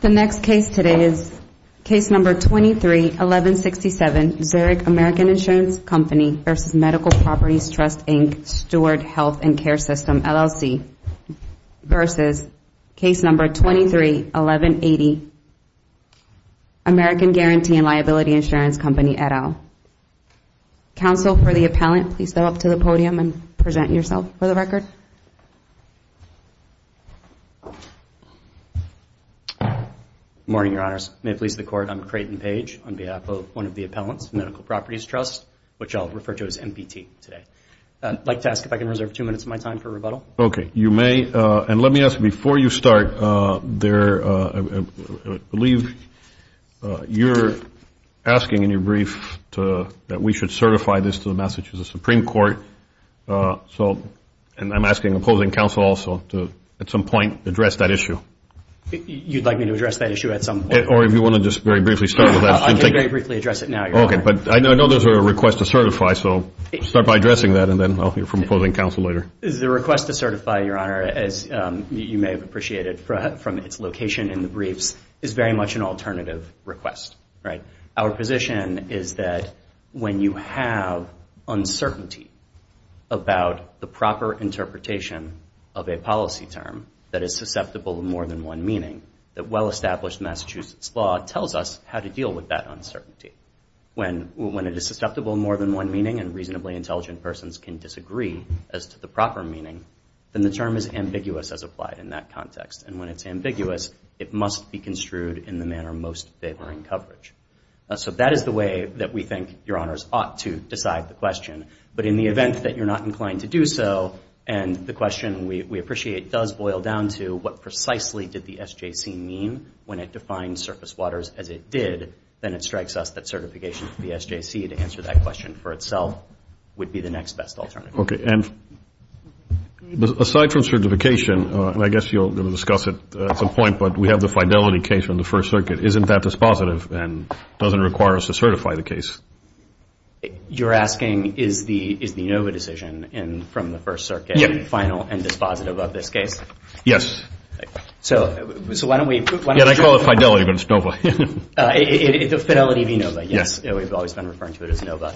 The next case today is Case No. 23-1167, Zurich American Insurance Company v. Medical Properties Trust, Inc., Steward Health and Care System, LLC v. Case No. 23-1180, American Guarantee and Liability Insurance Company, et al. Counsel for the appellant, please go up to the podium and present yourself for the record. Good morning, Your Honors. May it please the Court, I'm Creighton Page on behalf of one of the appellants, Medical Properties Trust, which I'll refer to as MBT today. I'd like to ask if I can reserve two minutes of my time for rebuttal. Okay, you may. And let me ask, before you start, I believe you're asking in your brief that we should certify this to the Massachusetts Supreme Court, and I'm asking opposing counsel also to, at some point, address that issue. You'd like me to address that issue at some point? Or if you want to just very briefly start with that. I can very briefly address it now, Your Honor. Okay, but I know those are requests to certify, so start by addressing that, and then I'll hear from opposing counsel later. The request to certify, Your Honor, as you may have appreciated from its location in the briefs, is very much an alternative request. Our position is that when you have uncertainty about the proper interpretation of a policy term that is susceptible to more than one meaning, that well-established Massachusetts law tells us how to deal with that uncertainty. When it is susceptible to more than one meaning, and reasonably intelligent persons can disagree as to the proper meaning, then the term is ambiguous as applied in that context. And when it's ambiguous, it must be construed in the manner most favoring coverage. So that is the way that we think, Your Honors, ought to decide the question. But in the event that you're not inclined to do so, and the question, we appreciate, does boil down to what precisely did the SJC mean, when it defined surface waters as it did, then it strikes us that certification for the SJC to answer that question for itself would be the next best alternative. Okay, and aside from certification, and I guess you'll discuss it at some point, but we have the fidelity case from the First Circuit. Isn't that dispositive and doesn't require us to certify the case? You're asking, is the NOVA decision from the First Circuit final and dispositive of this case? Yes. So why don't we prove it? I call it fidelity, but it's NOVA. Fidelity v. NOVA, yes. We've always been referring to it as NOVA.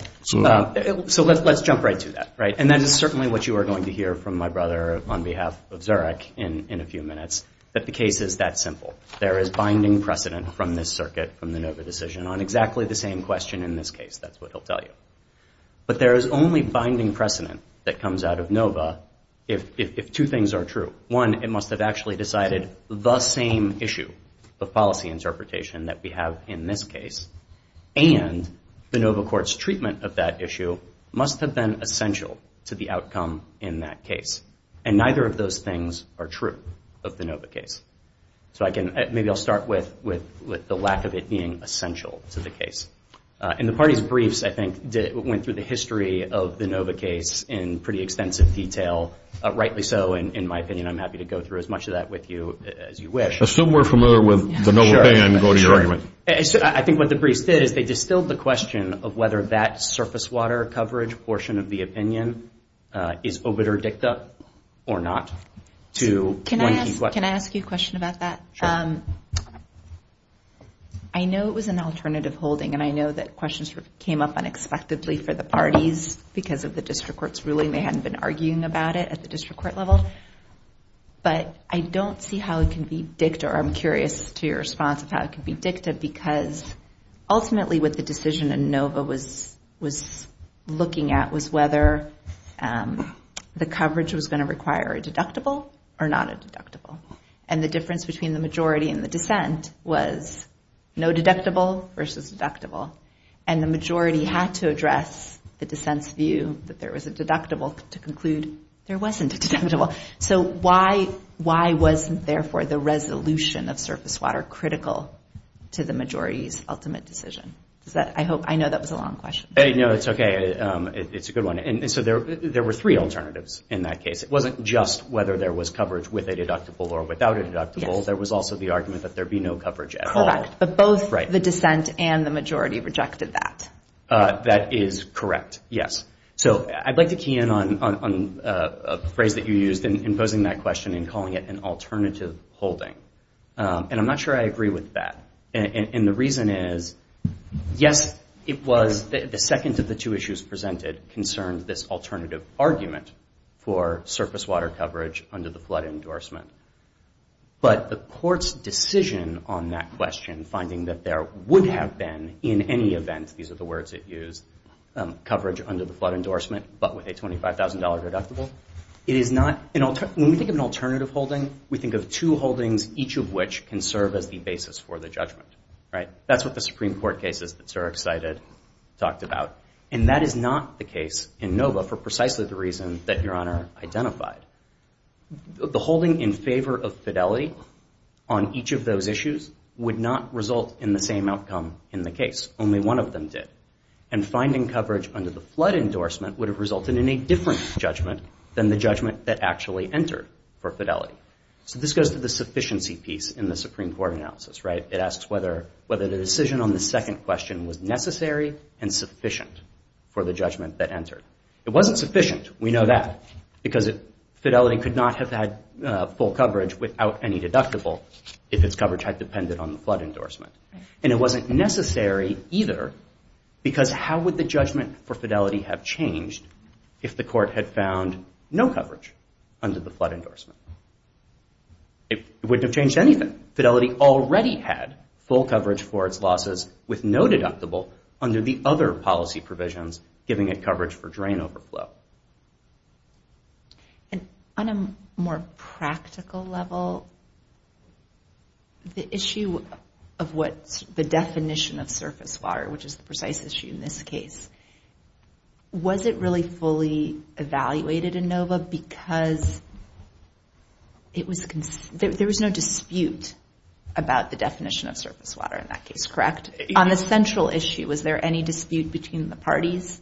So let's jump right to that. And that is certainly what you are going to hear from my brother on behalf of Zurich in a few minutes, that the case is that simple. There is binding precedent from this circuit, from the NOVA decision, on exactly the same question in this case. That's what he'll tell you. But there is only binding precedent that comes out of NOVA if two things are true. One, it must have actually decided the same issue of policy interpretation that we have in this case. And the NOVA court's treatment of that issue must have been essential to the outcome in that case. And neither of those things are true of the NOVA case. So maybe I'll start with the lack of it being essential to the case. And the party's briefs, I think, went through the history of the NOVA case in pretty extensive detail. Rightly so, in my opinion. I'm happy to go through as much of that with you as you wish. Assume we're familiar with the NOVA opinion and go to your argument. I think what the briefs did is they distilled the question of whether that surface water coverage portion of the opinion is obitur dicta or not. Can I ask you a question about that? Sure. I know it was an alternative holding, and I know that questions came up unexpectedly for the parties because of the district court's ruling. They hadn't been arguing about it at the district court level. But I don't see how it can be dicta, or I'm curious to your response of how it can be dicta, because ultimately what the decision in NOVA was looking at was whether the coverage was going to require a deductible or not a deductible. And the difference between the majority and the dissent was no deductible versus deductible. And the majority had to address the dissent's view that there was a deductible to conclude there wasn't a deductible. So why wasn't therefore the resolution of surface water critical to the majority's ultimate decision? I know that was a long question. No, it's okay. It's a good one. And so there were three alternatives in that case. It wasn't just whether there was coverage with a deductible or without a deductible. There was also the argument that there be no coverage at all. Correct. But both the dissent and the majority rejected that. That is correct, yes. So I'd like to key in on a phrase that you used in posing that question and calling it an alternative holding. And I'm not sure I agree with that. And the reason is, yes, it was the second of the two issues presented concerned this alternative argument for surface water coverage under the flood endorsement. But the court's decision on that question, finding that there would have been in any event, these are the words it used, coverage under the flood endorsement but with a $25,000 deductible, it is not an alternative. When we think of an alternative holding, we think of two holdings, each of which can serve as the basis for the judgment. Right? That's what the Supreme Court cases that Sir excited talked about. And that is not the case in Nova for precisely the reason that Your Honor identified. The holding in favor of fidelity on each of those issues would not result in the same outcome in the case. Only one of them did. And finding coverage under the flood endorsement would have resulted in a different judgment than the judgment that actually entered for fidelity. So this goes to the sufficiency piece in the Supreme Court analysis, right? It asks whether the decision on the second question was necessary and sufficient for the judgment that entered. It wasn't sufficient. We know that because fidelity could not have had full coverage without any deductible if its coverage had depended on the flood endorsement. And it wasn't necessary either because how would the judgment for fidelity have changed if the court had found no coverage under the flood endorsement? It wouldn't have changed anything. Fidelity already had full coverage for its losses with no deductible under the other policy provisions giving it coverage for drain overflow. And on a more practical level, the issue of what the definition of surface water, which is the precise issue in this case, was it really fully evaluated in NOVA because there was no dispute about the definition of surface water in that case, correct? On the central issue, was there any dispute between the parties?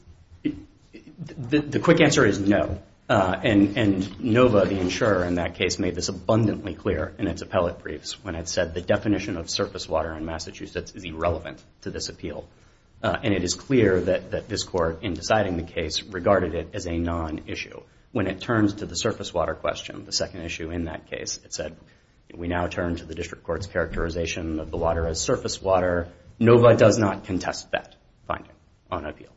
The quick answer is no. And NOVA, the insurer in that case, made this abundantly clear in its appellate briefs when it said the definition of surface water in Massachusetts is irrelevant to this appeal. And it is clear that this court, in deciding the case, regarded it as a non-issue. When it turns to the surface water question, the second issue in that case, it said, we now turn to the district court's characterization of the water as surface water. NOVA does not contest that finding on appeal.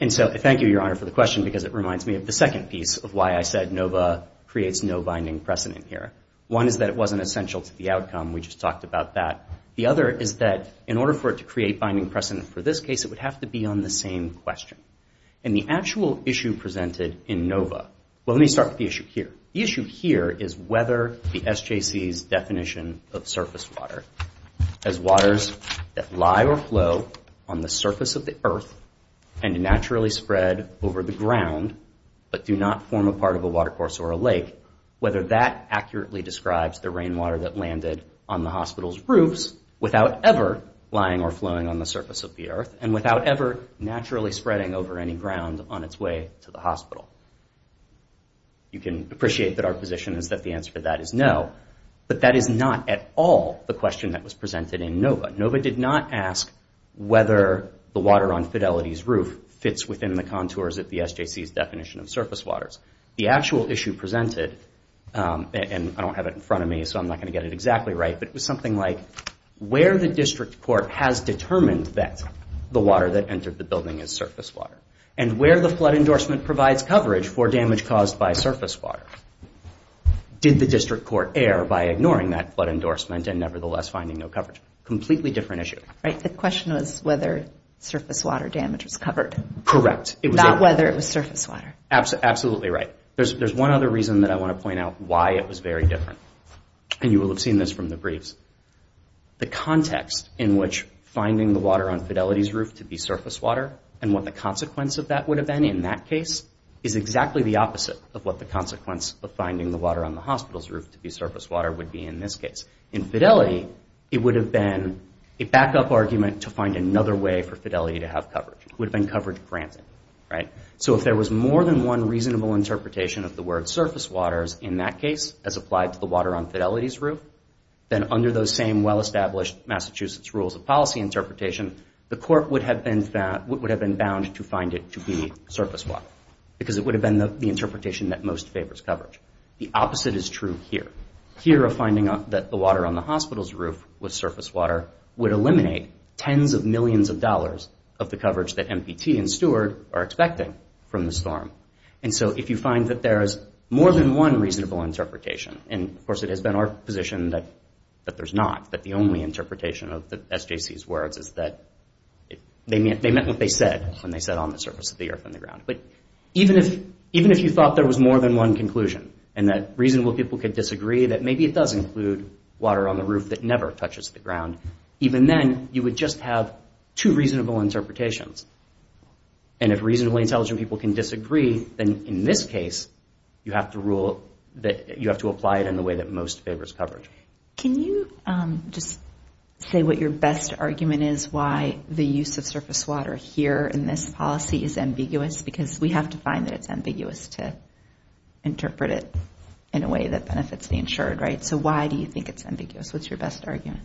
And so I thank you, Your Honor, for the question because it reminds me of the second piece of why I said NOVA creates no binding precedent here. One is that it wasn't essential to the outcome. We just talked about that. The other is that in order for it to create binding precedent for this case, it would have to be on the same question. And the actual issue presented in NOVA, well, let me start with the issue here. The issue here is whether the SJC's definition of surface water as waters that lie or flow on the surface of the earth and naturally spread over the ground but do not form a part of a watercourse or a lake, whether that accurately describes the rainwater that landed on the hospital's roofs without ever lying or flowing on the surface of the earth and without ever naturally spreading over any ground on its way to the hospital. You can appreciate that our position is that the answer to that is no, but that is not at all the question that was presented in NOVA. NOVA did not ask whether the water on Fidelity's roof fits within the contours of the SJC's definition of surface waters. The actual issue presented, and I don't have it in front of me so I'm not going to get it exactly right, but it was something like where the district court has determined that the water that entered the building is surface water and where the flood endorsement provides coverage for damage caused by surface water. Did the district court err by ignoring that flood endorsement and nevertheless finding no coverage? Completely different issue, right? The question was whether surface water damage was covered. Correct. Not whether it was surface water. Absolutely right. There's one other reason that I want to point out why it was very different, and you will have seen this from the briefs. The context in which finding the water on Fidelity's roof to be surface water and what the consequence of that would have been in that case is exactly the opposite of what the consequence of finding the water on the hospital's roof to be surface water would be in this case. In Fidelity, it would have been a backup argument to find another way for Fidelity to have coverage. It would have been coverage granted, right? So if there was more than one reasonable interpretation of the word surface waters in that case as applied to the water on Fidelity's roof, then under those same well-established Massachusetts rules of policy interpretation, the court would have been bound to find it to be surface water because it would have been the interpretation that most favors coverage. The opposite is true here. Here, a finding that the water on the hospital's roof was surface water would eliminate tens of millions of dollars of the coverage that MPT and Steward are expecting from the storm. And so if you find that there is more than one reasonable interpretation, and of course it has been our position that there's not, that the only interpretation of SJC's words is that they meant what they said when they said on the surface of the earth and the ground. But even if you thought there was more than one conclusion and that reasonable people could disagree that maybe it does include water on the roof that never touches the ground, even then you would just have two reasonable interpretations. And if reasonably intelligent people can disagree, then in this case you have to rule that you have to apply it in the way that most favors coverage. Can you just say what your best argument is why the use of surface water here in this policy is ambiguous? Because we have to find that it's ambiguous to interpret it in a way that benefits the insured, right? So why do you think it's ambiguous? What's your best argument?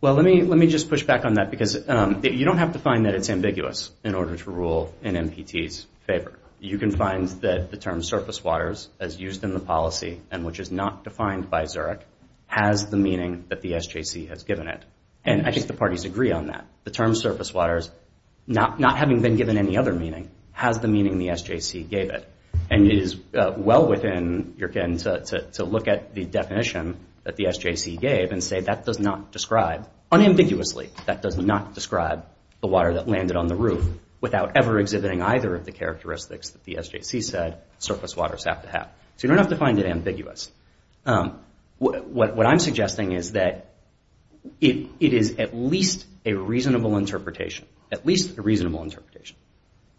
Well, let me just push back on that because you don't have to find that it's ambiguous in order to rule in MPT's favor. You can find that the term surface waters as used in the policy and which is not defined by Zurich has the meaning that the SJC has given it. And I think the parties agree on that. The term surface waters, not having been given any other meaning, has the meaning the SJC gave it. And it is well within your ken to look at the definition that the SJC gave and say that does not describe, unambiguously, that does not describe the water that landed on the roof without ever exhibiting either of the characteristics that the SJC said surface waters have to have. So you don't have to find it ambiguous. What I'm suggesting is that it is at least a reasonable interpretation, at least a reasonable interpretation,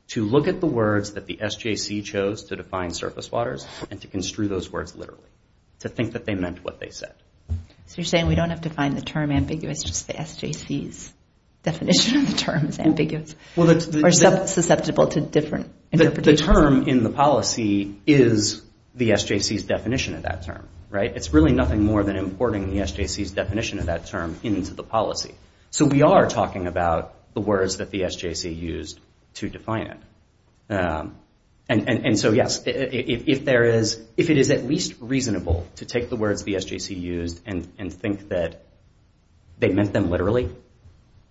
to look at the words that the SJC chose to define surface waters and to construe those words literally, to think that they meant what they said. So you're saying we don't have to find the term ambiguous, just the SJC's definition of the term is ambiguous or susceptible to different interpretations? The term in the policy is the SJC's definition of that term, right? It's really nothing more than importing the SJC's definition of that term into the policy. So we are talking about the words that the SJC used to define it. And so, yes, if it is at least reasonable to take the words the SJC used and think that they meant them literally,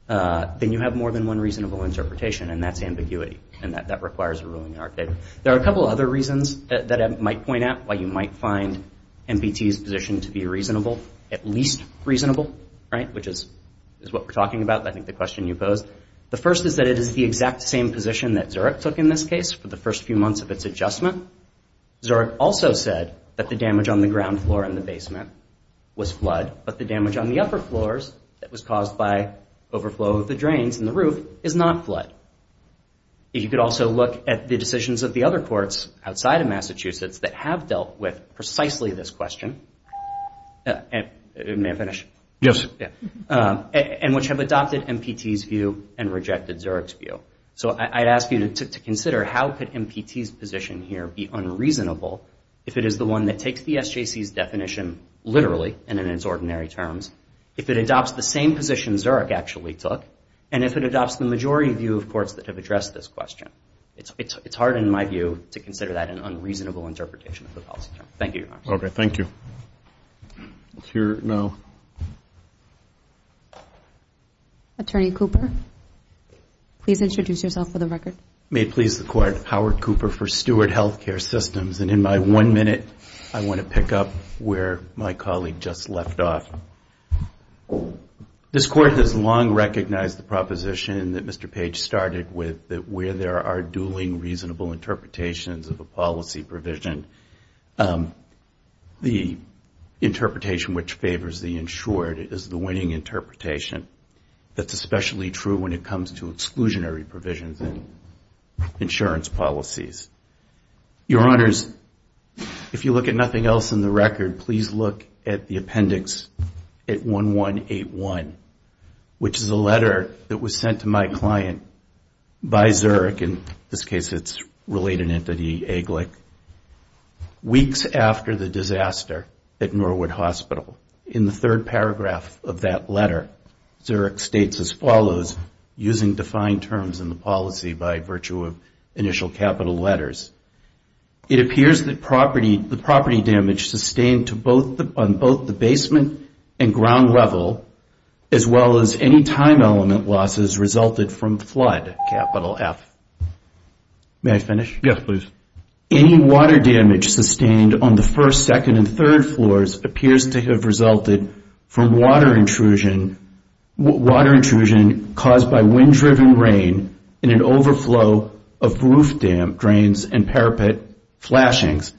then you have more than one reasonable interpretation, and that's ambiguity, and that requires a ruling in our favor. There are a couple of other reasons that I might point out why you might find MBT's position to be reasonable, at least reasonable, right, which is what we're talking about, I think the question you posed. The first is that it is the exact same position that Zurich took in this case for the first few months of its adjustment. Zurich also said that the damage on the ground floor in the basement was flood, but the damage on the upper floors that was caused by overflow of the drains in the roof is not flood. If you could also look at the decisions of the other courts outside of Massachusetts that have dealt with precisely this question, and may I finish? Yes. And which have adopted MBT's view and rejected Zurich's view. So I'd ask you to consider how could MBT's position here be unreasonable if it is the one that takes the SJC's definition literally and in its ordinary terms, if it adopts the same position Zurich actually took, and if it adopts the majority view of courts that have addressed this question. It's hard in my view to consider that an unreasonable interpretation of the policy. Thank you, Your Honor. Okay, thank you. Let's hear it now. Attorney Cooper, please introduce yourself for the record. May it please the Court, Howard Cooper for Stewart Healthcare Systems, and in my one minute I want to pick up where my colleague just left off. This Court has long recognized the proposition that Mr. Page started with that where there are dueling reasonable interpretations of a policy provision, the interpretation which favors the insured is the winning interpretation. That's especially true when it comes to exclusionary provisions in insurance policies. Your Honors, if you look at nothing else in the record, please look at the appendix at 1181, which is a letter that was sent to my client by Zurich, in this case it's related entity AGLIC, weeks after the disaster at Norwood Hospital. In the third paragraph of that letter, Zurich states as follows using defined terms in the policy by virtue of initial capital letters. It appears that the property damage sustained on both the basement and ground level, as well as any time element losses resulted from flood, capital F. May I finish? Yes, please. Any water damage sustained on the first, second, and third floors appears to have resulted from water intrusion caused by wind-driven rain in an overflow of roof drains and parapet flashings.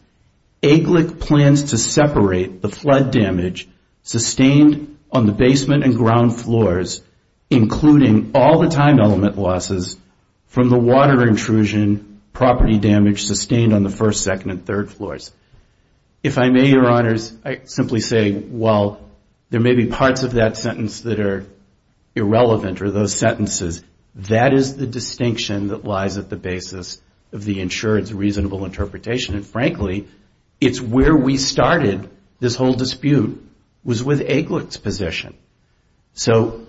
AGLIC plans to separate the flood damage sustained on the basement and ground floors, including all the time element losses, from the water intrusion property damage sustained on the first, second, and third floors. If I may, Your Honors, I simply say while there may be parts of that sentence that are irrelevant, or those sentences, that is the distinction that lies at the basis of the insured's reasonable interpretation. And frankly, it's where we started this whole dispute was with AGLIC's position. So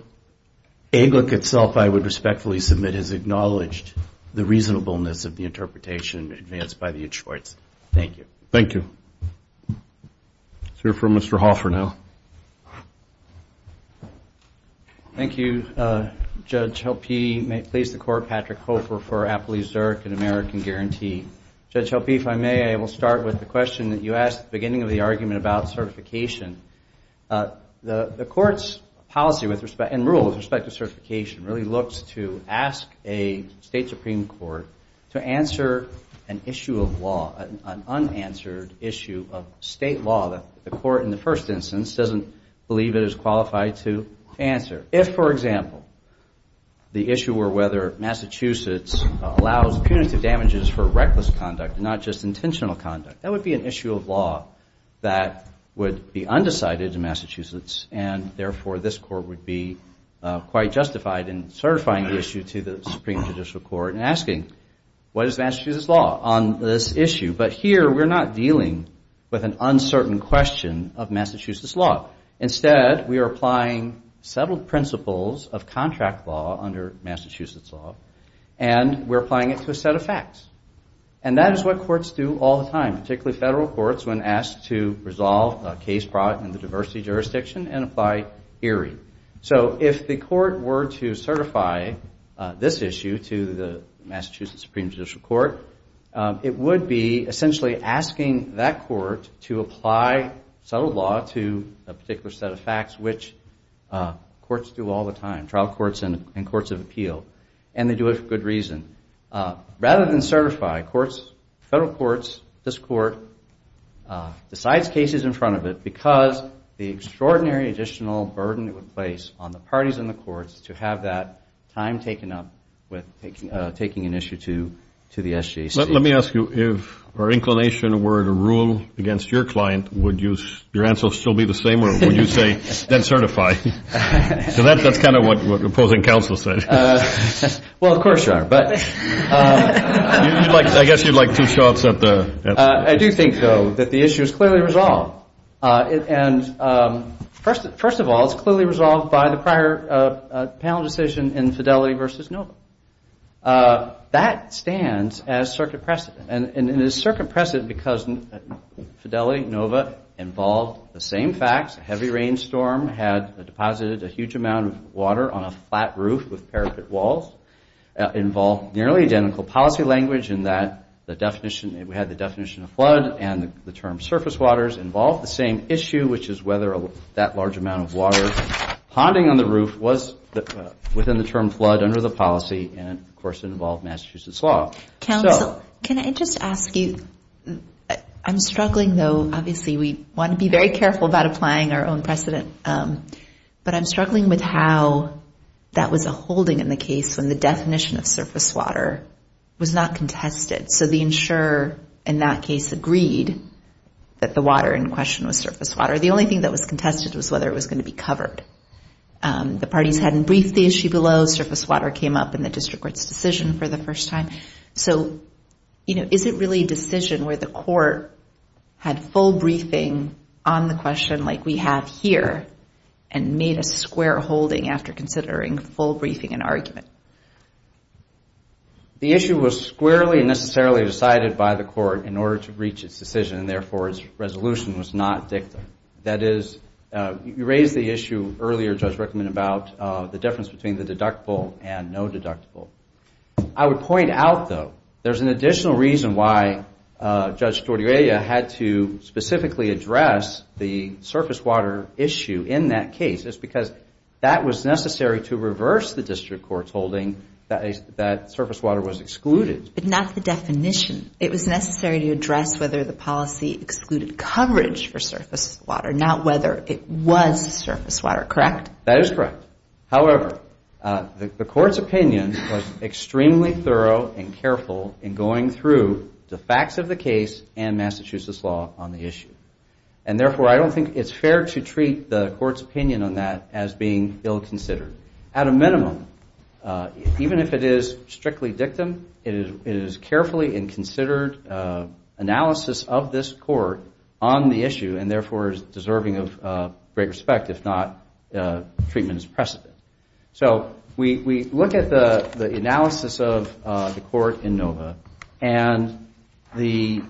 AGLIC itself, I would respectfully submit, has acknowledged the reasonableness of the interpretation advanced by the insured's. Thank you. Thank you. Let's hear from Mr. Hoffer now. Thank you, Judge Helpe. May it please the Court, Patrick Hoffer for Appalachian-Zurich and American Guarantee. Judge Helpe, if I may, I will start with the question that you asked at the beginning of the argument about certification. The Court's policy and rule with respect to certification really looks to ask a State Supreme Court to answer an issue of law, an unanswered issue of State law. The Court, in the first instance, doesn't believe it is qualified to answer. If, for example, the issue were whether Massachusetts allows punitive damages for reckless conduct, not just intentional conduct, that would be an issue of law that would be undecided in Massachusetts, and therefore this Court would be quite justified in certifying the issue to the Supreme Judicial Court But here we're not dealing with an uncertain question of Massachusetts law. Instead, we are applying settled principles of contract law under Massachusetts law, and we're applying it to a set of facts. And that is what courts do all the time, particularly Federal courts, when asked to resolve a case product in the diversity jurisdiction and apply ERI. So if the Court were to certify this issue to the Massachusetts Supreme Judicial Court, it would be essentially asking that Court to apply settled law to a particular set of facts, which courts do all the time, trial courts and courts of appeal. And they do it for good reason. Rather than certify, courts, Federal courts, this Court, decides cases in front of it because the extraordinary additional burden it would place on the parties in the courts to have that time taken up with taking an issue to the SJC. Let me ask you, if our inclination were to rule against your client, would your answer still be the same, or would you say, then certify? So that's kind of what opposing counsel said. Well, of course you are. I guess you'd like two shots at the answer. I do think, though, that the issue is clearly resolved. And first of all, it's clearly resolved by the prior panel decision in Fidelity v. Nova. That stands as circuit precedent. And it is circuit precedent because Fidelity, Nova, involved the same facts, a heavy rainstorm had deposited a huge amount of water on a flat roof with parapet walls, involved nearly identical policy language in that the definition, we had the definition of flood and the term surface waters involved the same issue, which is whether that large amount of water ponding on the roof was within the term flood under the policy, and, of course, it involved Massachusetts law. Counsel, can I just ask you, I'm struggling, though, obviously we want to be very careful about applying our own precedent, but I'm struggling with how that was a holding in the case when the definition of surface water was not contested. So the insurer in that case agreed that the water in question was surface water. The only thing that was contested was whether it was going to be covered. The parties hadn't briefed the issue below. Surface water came up in the district court's decision for the first time. So, you know, is it really a decision where the court had full briefing on the question like we have here The issue was squarely and necessarily decided by the court in order to reach its decision, and, therefore, its resolution was not dicta. That is, you raised the issue earlier, Judge Rickman, about the difference between the deductible and no deductible. I would point out, though, there's an additional reason why Judge Tortorella had to specifically address the surface water issue in that case. It's because that was necessary to reverse the district court's holding that surface water was excluded. But not the definition. It was necessary to address whether the policy excluded coverage for surface water, not whether it was surface water, correct? That is correct. However, the court's opinion was extremely thorough and careful in going through the facts of the case and Massachusetts law on the issue. And, therefore, I don't think it's fair to treat the court's opinion on that as being ill-considered. At a minimum, even if it is strictly dictum, it is carefully and considered analysis of this court on the issue and, therefore, is deserving of great respect, if not treatment as precedent. So we look at the analysis of the court in NOVA, and the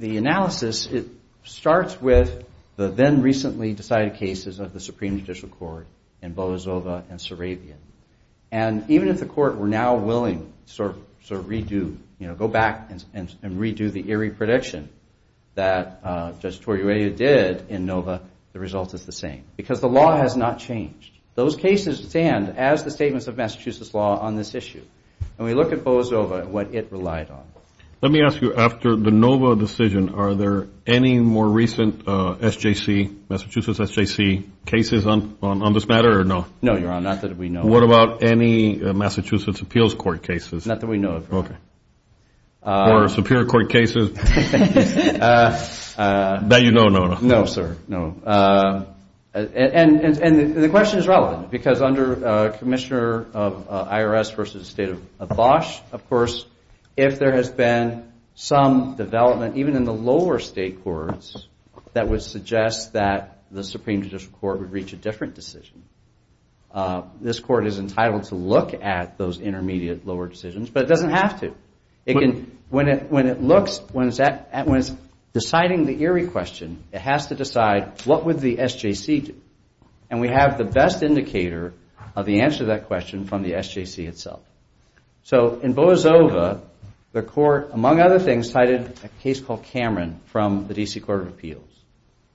analysis, it starts with the then-recently decided cases of the Supreme Judicial Court in Boa Zova and Sarabia. And even if the court were now willing to sort of redo, you know, go back and redo the eerie prediction that Judge Tortorella did in NOVA, the result is the same, because the law has not changed. Those cases stand as the statements of Massachusetts law on this issue. And we look at Boa Zova and what it relied on. Let me ask you, after the NOVA decision, are there any more recent SJC, Massachusetts SJC, cases on this matter or no? No, Your Honor, not that we know of. What about any Massachusetts appeals court cases? Not that we know of, Your Honor. Okay. Or Superior Court cases? That you don't know of. No, sir, no. And the question is relevant, because under Commissioner of IRS versus State of Bosch, of course, if there has been some development, even in the lower state courts, that would suggest that the Supreme Judicial Court would reach a different decision. This Court is entitled to look at those intermediate lower decisions, but it doesn't have to. When it looks, when it's deciding the eerie question, it has to decide what would the SJC do. And we have the best indicator of the answer to that question from the SJC itself. So in Boa Zova, the Court, among other things, cited a case called Cameron from the D.C. Court of Appeals.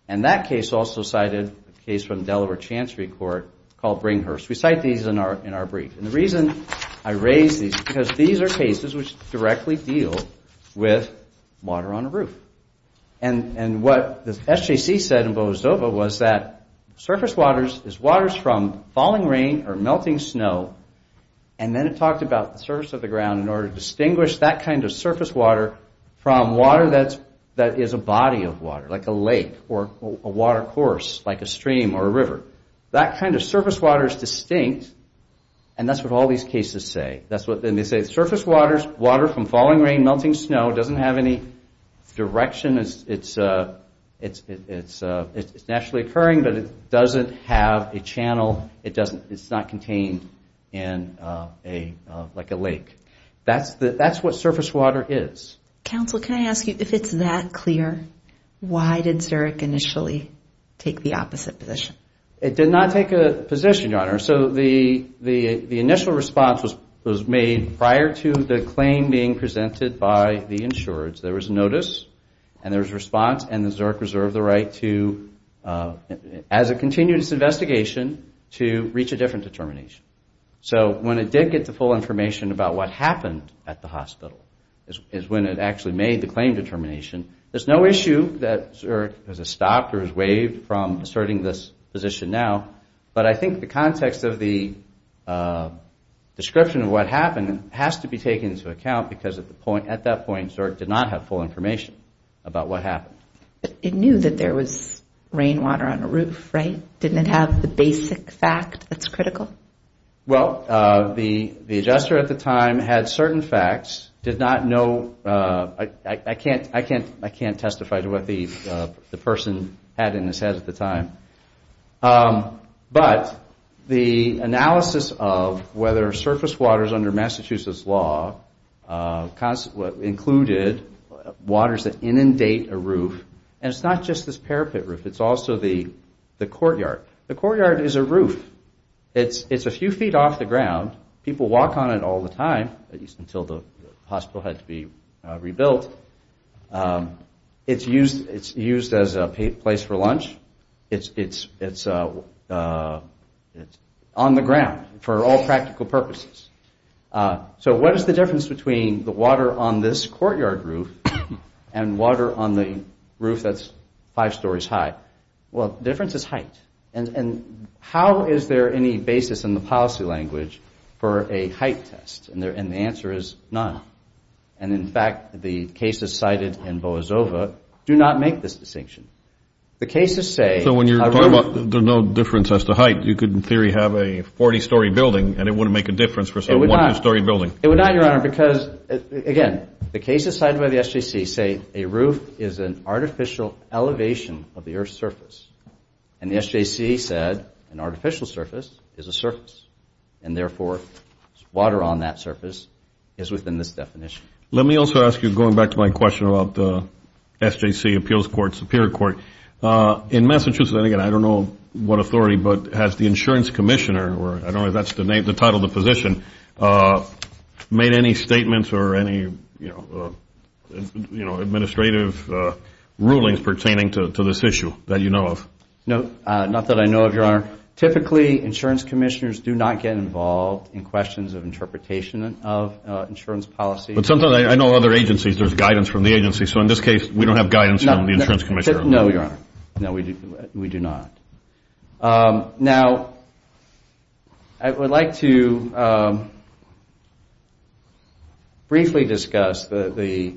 And that case also cited a case from Delaware Chancery Court called Bringhurst. We cite these in our brief. And the reason I raise these is because these are cases which directly deal with water on a roof. And what the SJC said in Boa Zova was that surface waters is waters from falling rain or melting snow. And then it talked about the surface of the ground in order to distinguish that kind of surface water from water that is a body of water, like a lake or a water course, like a stream or a river. That kind of surface water is distinct, and that's what all these cases say. And they say surface waters, water from falling rain, melting snow, doesn't have any direction. It's naturally occurring, but it doesn't have a channel. It's not contained in like a lake. That's what surface water is. Counsel, can I ask you, if it's that clear, why did Zurich initially take the opposite position? It did not take a position, Your Honor. So the initial response was made prior to the claim being presented by the insureds. There was notice, and there was response, and the Zurich reserved the right to, as it continued its investigation, to reach a different determination. So when it did get the full information about what happened at the hospital is when it actually made the claim determination. There's no issue that Zurich has stopped or has waived from asserting this position now. But I think the context of the description of what happened has to be taken into account because at that point Zurich did not have full information about what happened. It knew that there was rainwater on the roof, right? Didn't it have the basic fact that's critical? Well, the adjuster at the time had certain facts, did not know. I can't testify to what the person had in his head at the time. But the analysis of whether surface waters under Massachusetts law included waters that inundate a roof, and it's not just this parapet roof, it's also the courtyard. The courtyard is a roof. It's a few feet off the ground. People walk on it all the time, at least until the hospital had to be rebuilt. It's used as a place for lunch. It's on the ground for all practical purposes. So what is the difference between the water on this courtyard roof and water on the roof that's five stories high? Well, the difference is height. And how is there any basis in the policy language for a height test? And the answer is none. And in fact, the cases cited in Boasova do not make this distinction. So when you're talking about there's no difference as to height, you could in theory have a 40-story building and it wouldn't make a difference for a 100-story building. It would not, Your Honor, because again, the cases cited by the SJC say a roof is an artificial elevation of the earth's surface. And the SJC said an artificial surface is a surface. And therefore, water on that surface is within this definition. Let me also ask you, going back to my question about the SJC appeals court, superior court, in Massachusetts, and again, I don't know what authority, but has the insurance commissioner, or I don't know if that's the title of the position, made any statements or any, you know, administrative rulings pertaining to this issue that you know of? No, not that I know of, Your Honor. Typically, insurance commissioners do not get involved in questions of interpretation of insurance policy. But sometimes I know other agencies. There's guidance from the agency. So in this case, we don't have guidance from the insurance commissioner. No, Your Honor. No, we do not. Now, I would like to briefly discuss the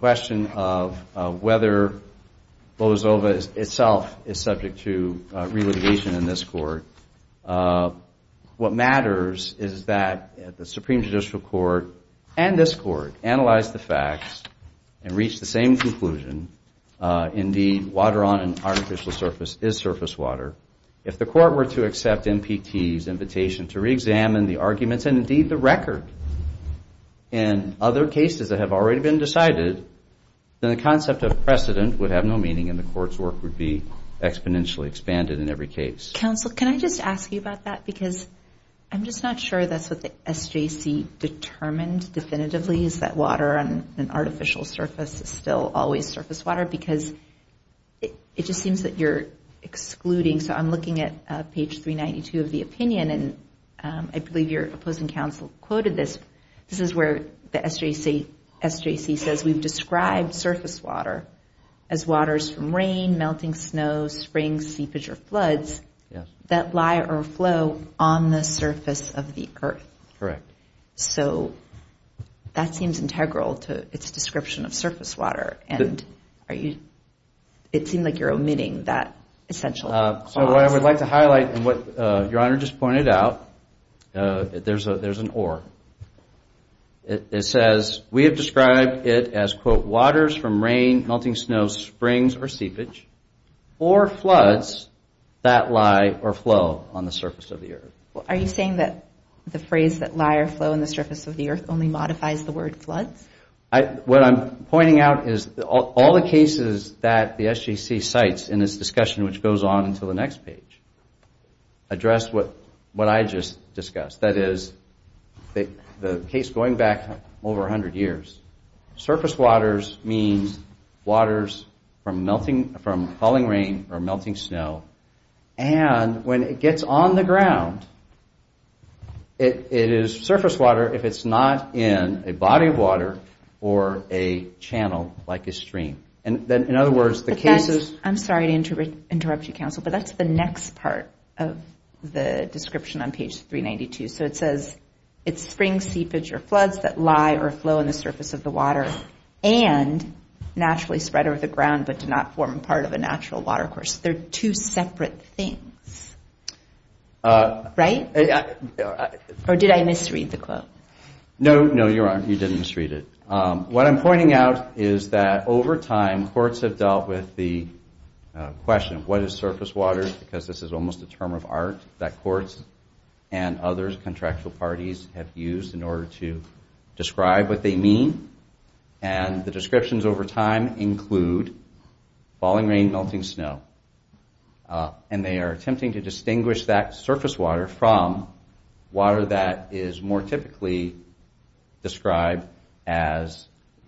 question of whether Bozova itself is subject to re-litigation in this court. What matters is that the Supreme Judicial Court and this court analyze the facts and reach the same conclusion. Indeed, water on an artificial surface is surface water. If the court were to accept MPT's invitation to re-examine the arguments and indeed the record in other cases that have already been decided, then the concept of precedent would have no meaning and the court's work would be exponentially expanded in every case. Counsel, can I just ask you about that? Because I'm just not sure that's what the SJC determined definitively, is that water on an artificial surface is still always surface water, because it just seems that you're excluding. So I'm looking at page 392 of the opinion, and I believe your opposing counsel quoted this. This is where the SJC says, we've described surface water as waters from rain, melting snow, springs, seepage, or floods that lie or flow on the surface of the earth. Correct. So that seems integral to its description of surface water, and it seems like you're omitting that essential clause. So what I would like to highlight, and what Your Honor just pointed out, there's an or. It says, we have described it as, quote, waters from rain, melting snow, springs, or seepage, or floods that lie or flow on the surface of the earth. Are you saying that the phrase that lie or flow on the surface of the earth only modifies the word floods? What I'm pointing out is all the cases that the SJC cites in this discussion, which goes on until the next page, address what I just discussed. That is, the case going back over 100 years, surface waters means waters from falling rain or melting snow, and when it gets on the ground, it is surface water if it's not in a body of water or a channel like a stream. In other words, the case is... I'm sorry to interrupt you, counsel, but that's the next part of the description on page 392. So it says, it's springs, seepage, or floods that lie or flow on the surface of the water and naturally spread over the ground but do not form part of a natural water course. They're two separate things. Right? Or did I misread the quote? No, no, Your Honor, you didn't misread it. What I'm pointing out is that over time, courts have dealt with the question, what is surface water? Because this is almost a term of art that courts and other contractual parties have used in order to describe what they mean. And the descriptions over time include falling rain, melting snow. And they are attempting to distinguish that surface water from water that is more typically described as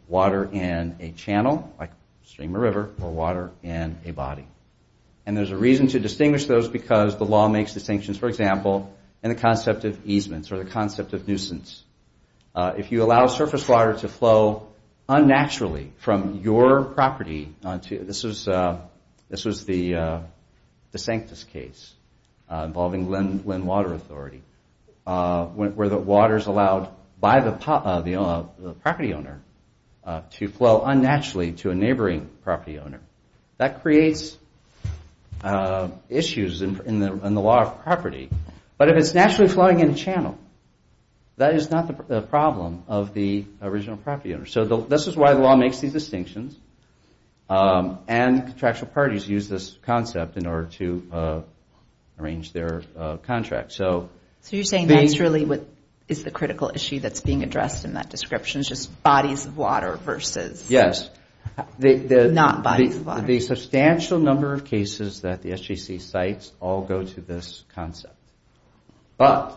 water in a channel, like stream or river, or water in a body. And there's a reason to distinguish those because the law makes distinctions. For example, in the concept of easements or the concept of nuisance. If you allow surface water to flow unnaturally from your property onto... This was the Sanctus case involving Lynn Water Authority where the water is allowed by the property owner to flow unnaturally to a neighboring property owner. That creates issues in the law of property. But if it's naturally flowing in a channel, that is not the problem of the original property owner. So this is why the law makes these distinctions. And contractual parties use this concept in order to arrange their contract. So you're saying that's really what is the critical issue that's being addressed in that description, just bodies of water versus... Yes. Not bodies of water. The substantial number of cases that the SJC cites all go to this concept. But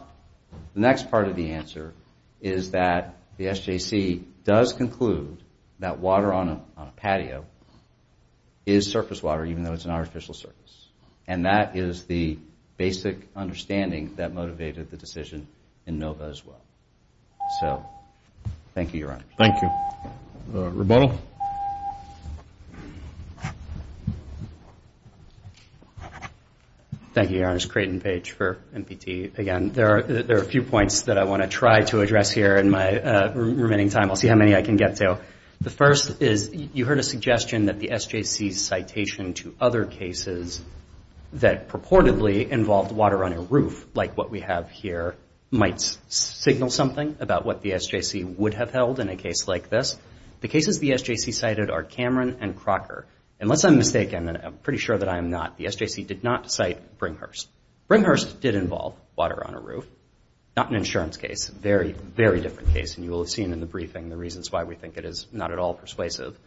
the next part of the answer is that the SJC does conclude that water on a patio is surface water even though it's an artificial surface. And that is the basic understanding that motivated the decision in NOVA as well. So thank you, Your Honor. Thank you. Rebuttal. Thank you, Your Honor. It's Creighton Page for NPT again. There are a few points that I want to try to address here in my remaining time. I'll see how many I can get to. The first is you heard a suggestion that the SJC's citation to other cases that purportedly involved water on a roof like what we have here might signal something about what the SJC would have held in a case like this. The cases the SJC cited are Cameron and Crocker. Unless I'm mistaken, and I'm pretty sure that I am not, the SJC did not cite Brighurst. Brighurst did involve water on a roof. Not an insurance case. Very, very different case, and you will have seen in the briefing the reasons why we think it is not at all persuasive.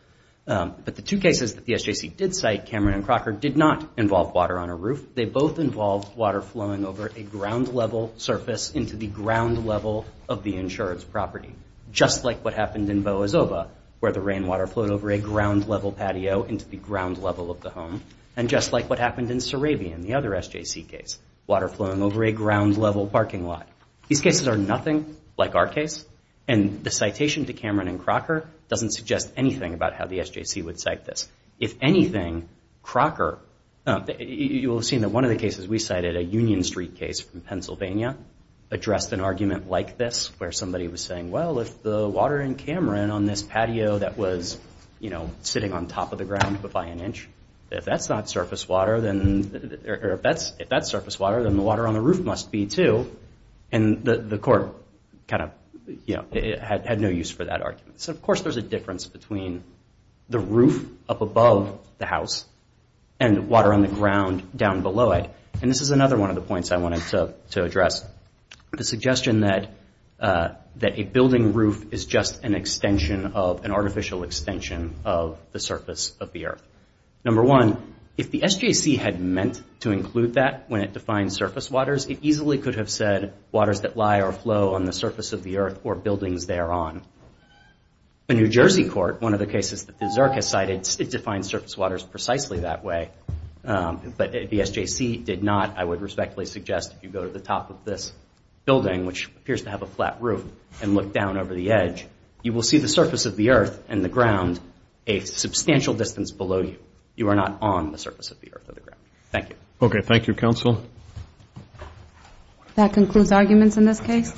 But the two cases that the SJC did cite, Cameron and Crocker, did not involve water on a roof. They both involved water flowing over a ground-level surface into the ground level of the insurance property, just like what happened in Boazova, where the rainwater flowed over a ground-level patio into the ground level of the home, and just like what happened in Surabian, the other SJC case, water flowing over a ground-level parking lot. These cases are nothing like our case, and the citation to Cameron and Crocker doesn't suggest anything about how the SJC would cite this. If anything, Crocker... You will have seen that one of the cases we cited, a Union Street case from Pennsylvania, addressed an argument like this, where somebody was saying, well, if the water in Cameron on this patio that was sitting on top of the ground by an inch, if that's not surface water, or if that's surface water, then the water on the roof must be, too. And the court kind of had no use for that argument. So, of course, there's a difference between the roof up above the house and water on the ground down below it. And this is another one of the points I wanted to address. The suggestion that a building roof is just an artificial extension of the surface of the earth. Number one, if the SJC had meant to include that when it defined surface waters, waters that lie or flow on the surface of the earth or buildings thereon. The New Jersey court, one of the cases that the Zerk has cited, it defines surface waters precisely that way. But the SJC did not. I would respectfully suggest if you go to the top of this building, which appears to have a flat roof, and look down over the edge, you will see the surface of the earth and the ground a substantial distance below you. You are not on the surface of the earth or the ground. Thank you. Okay, thank you, counsel. That concludes arguments in this case?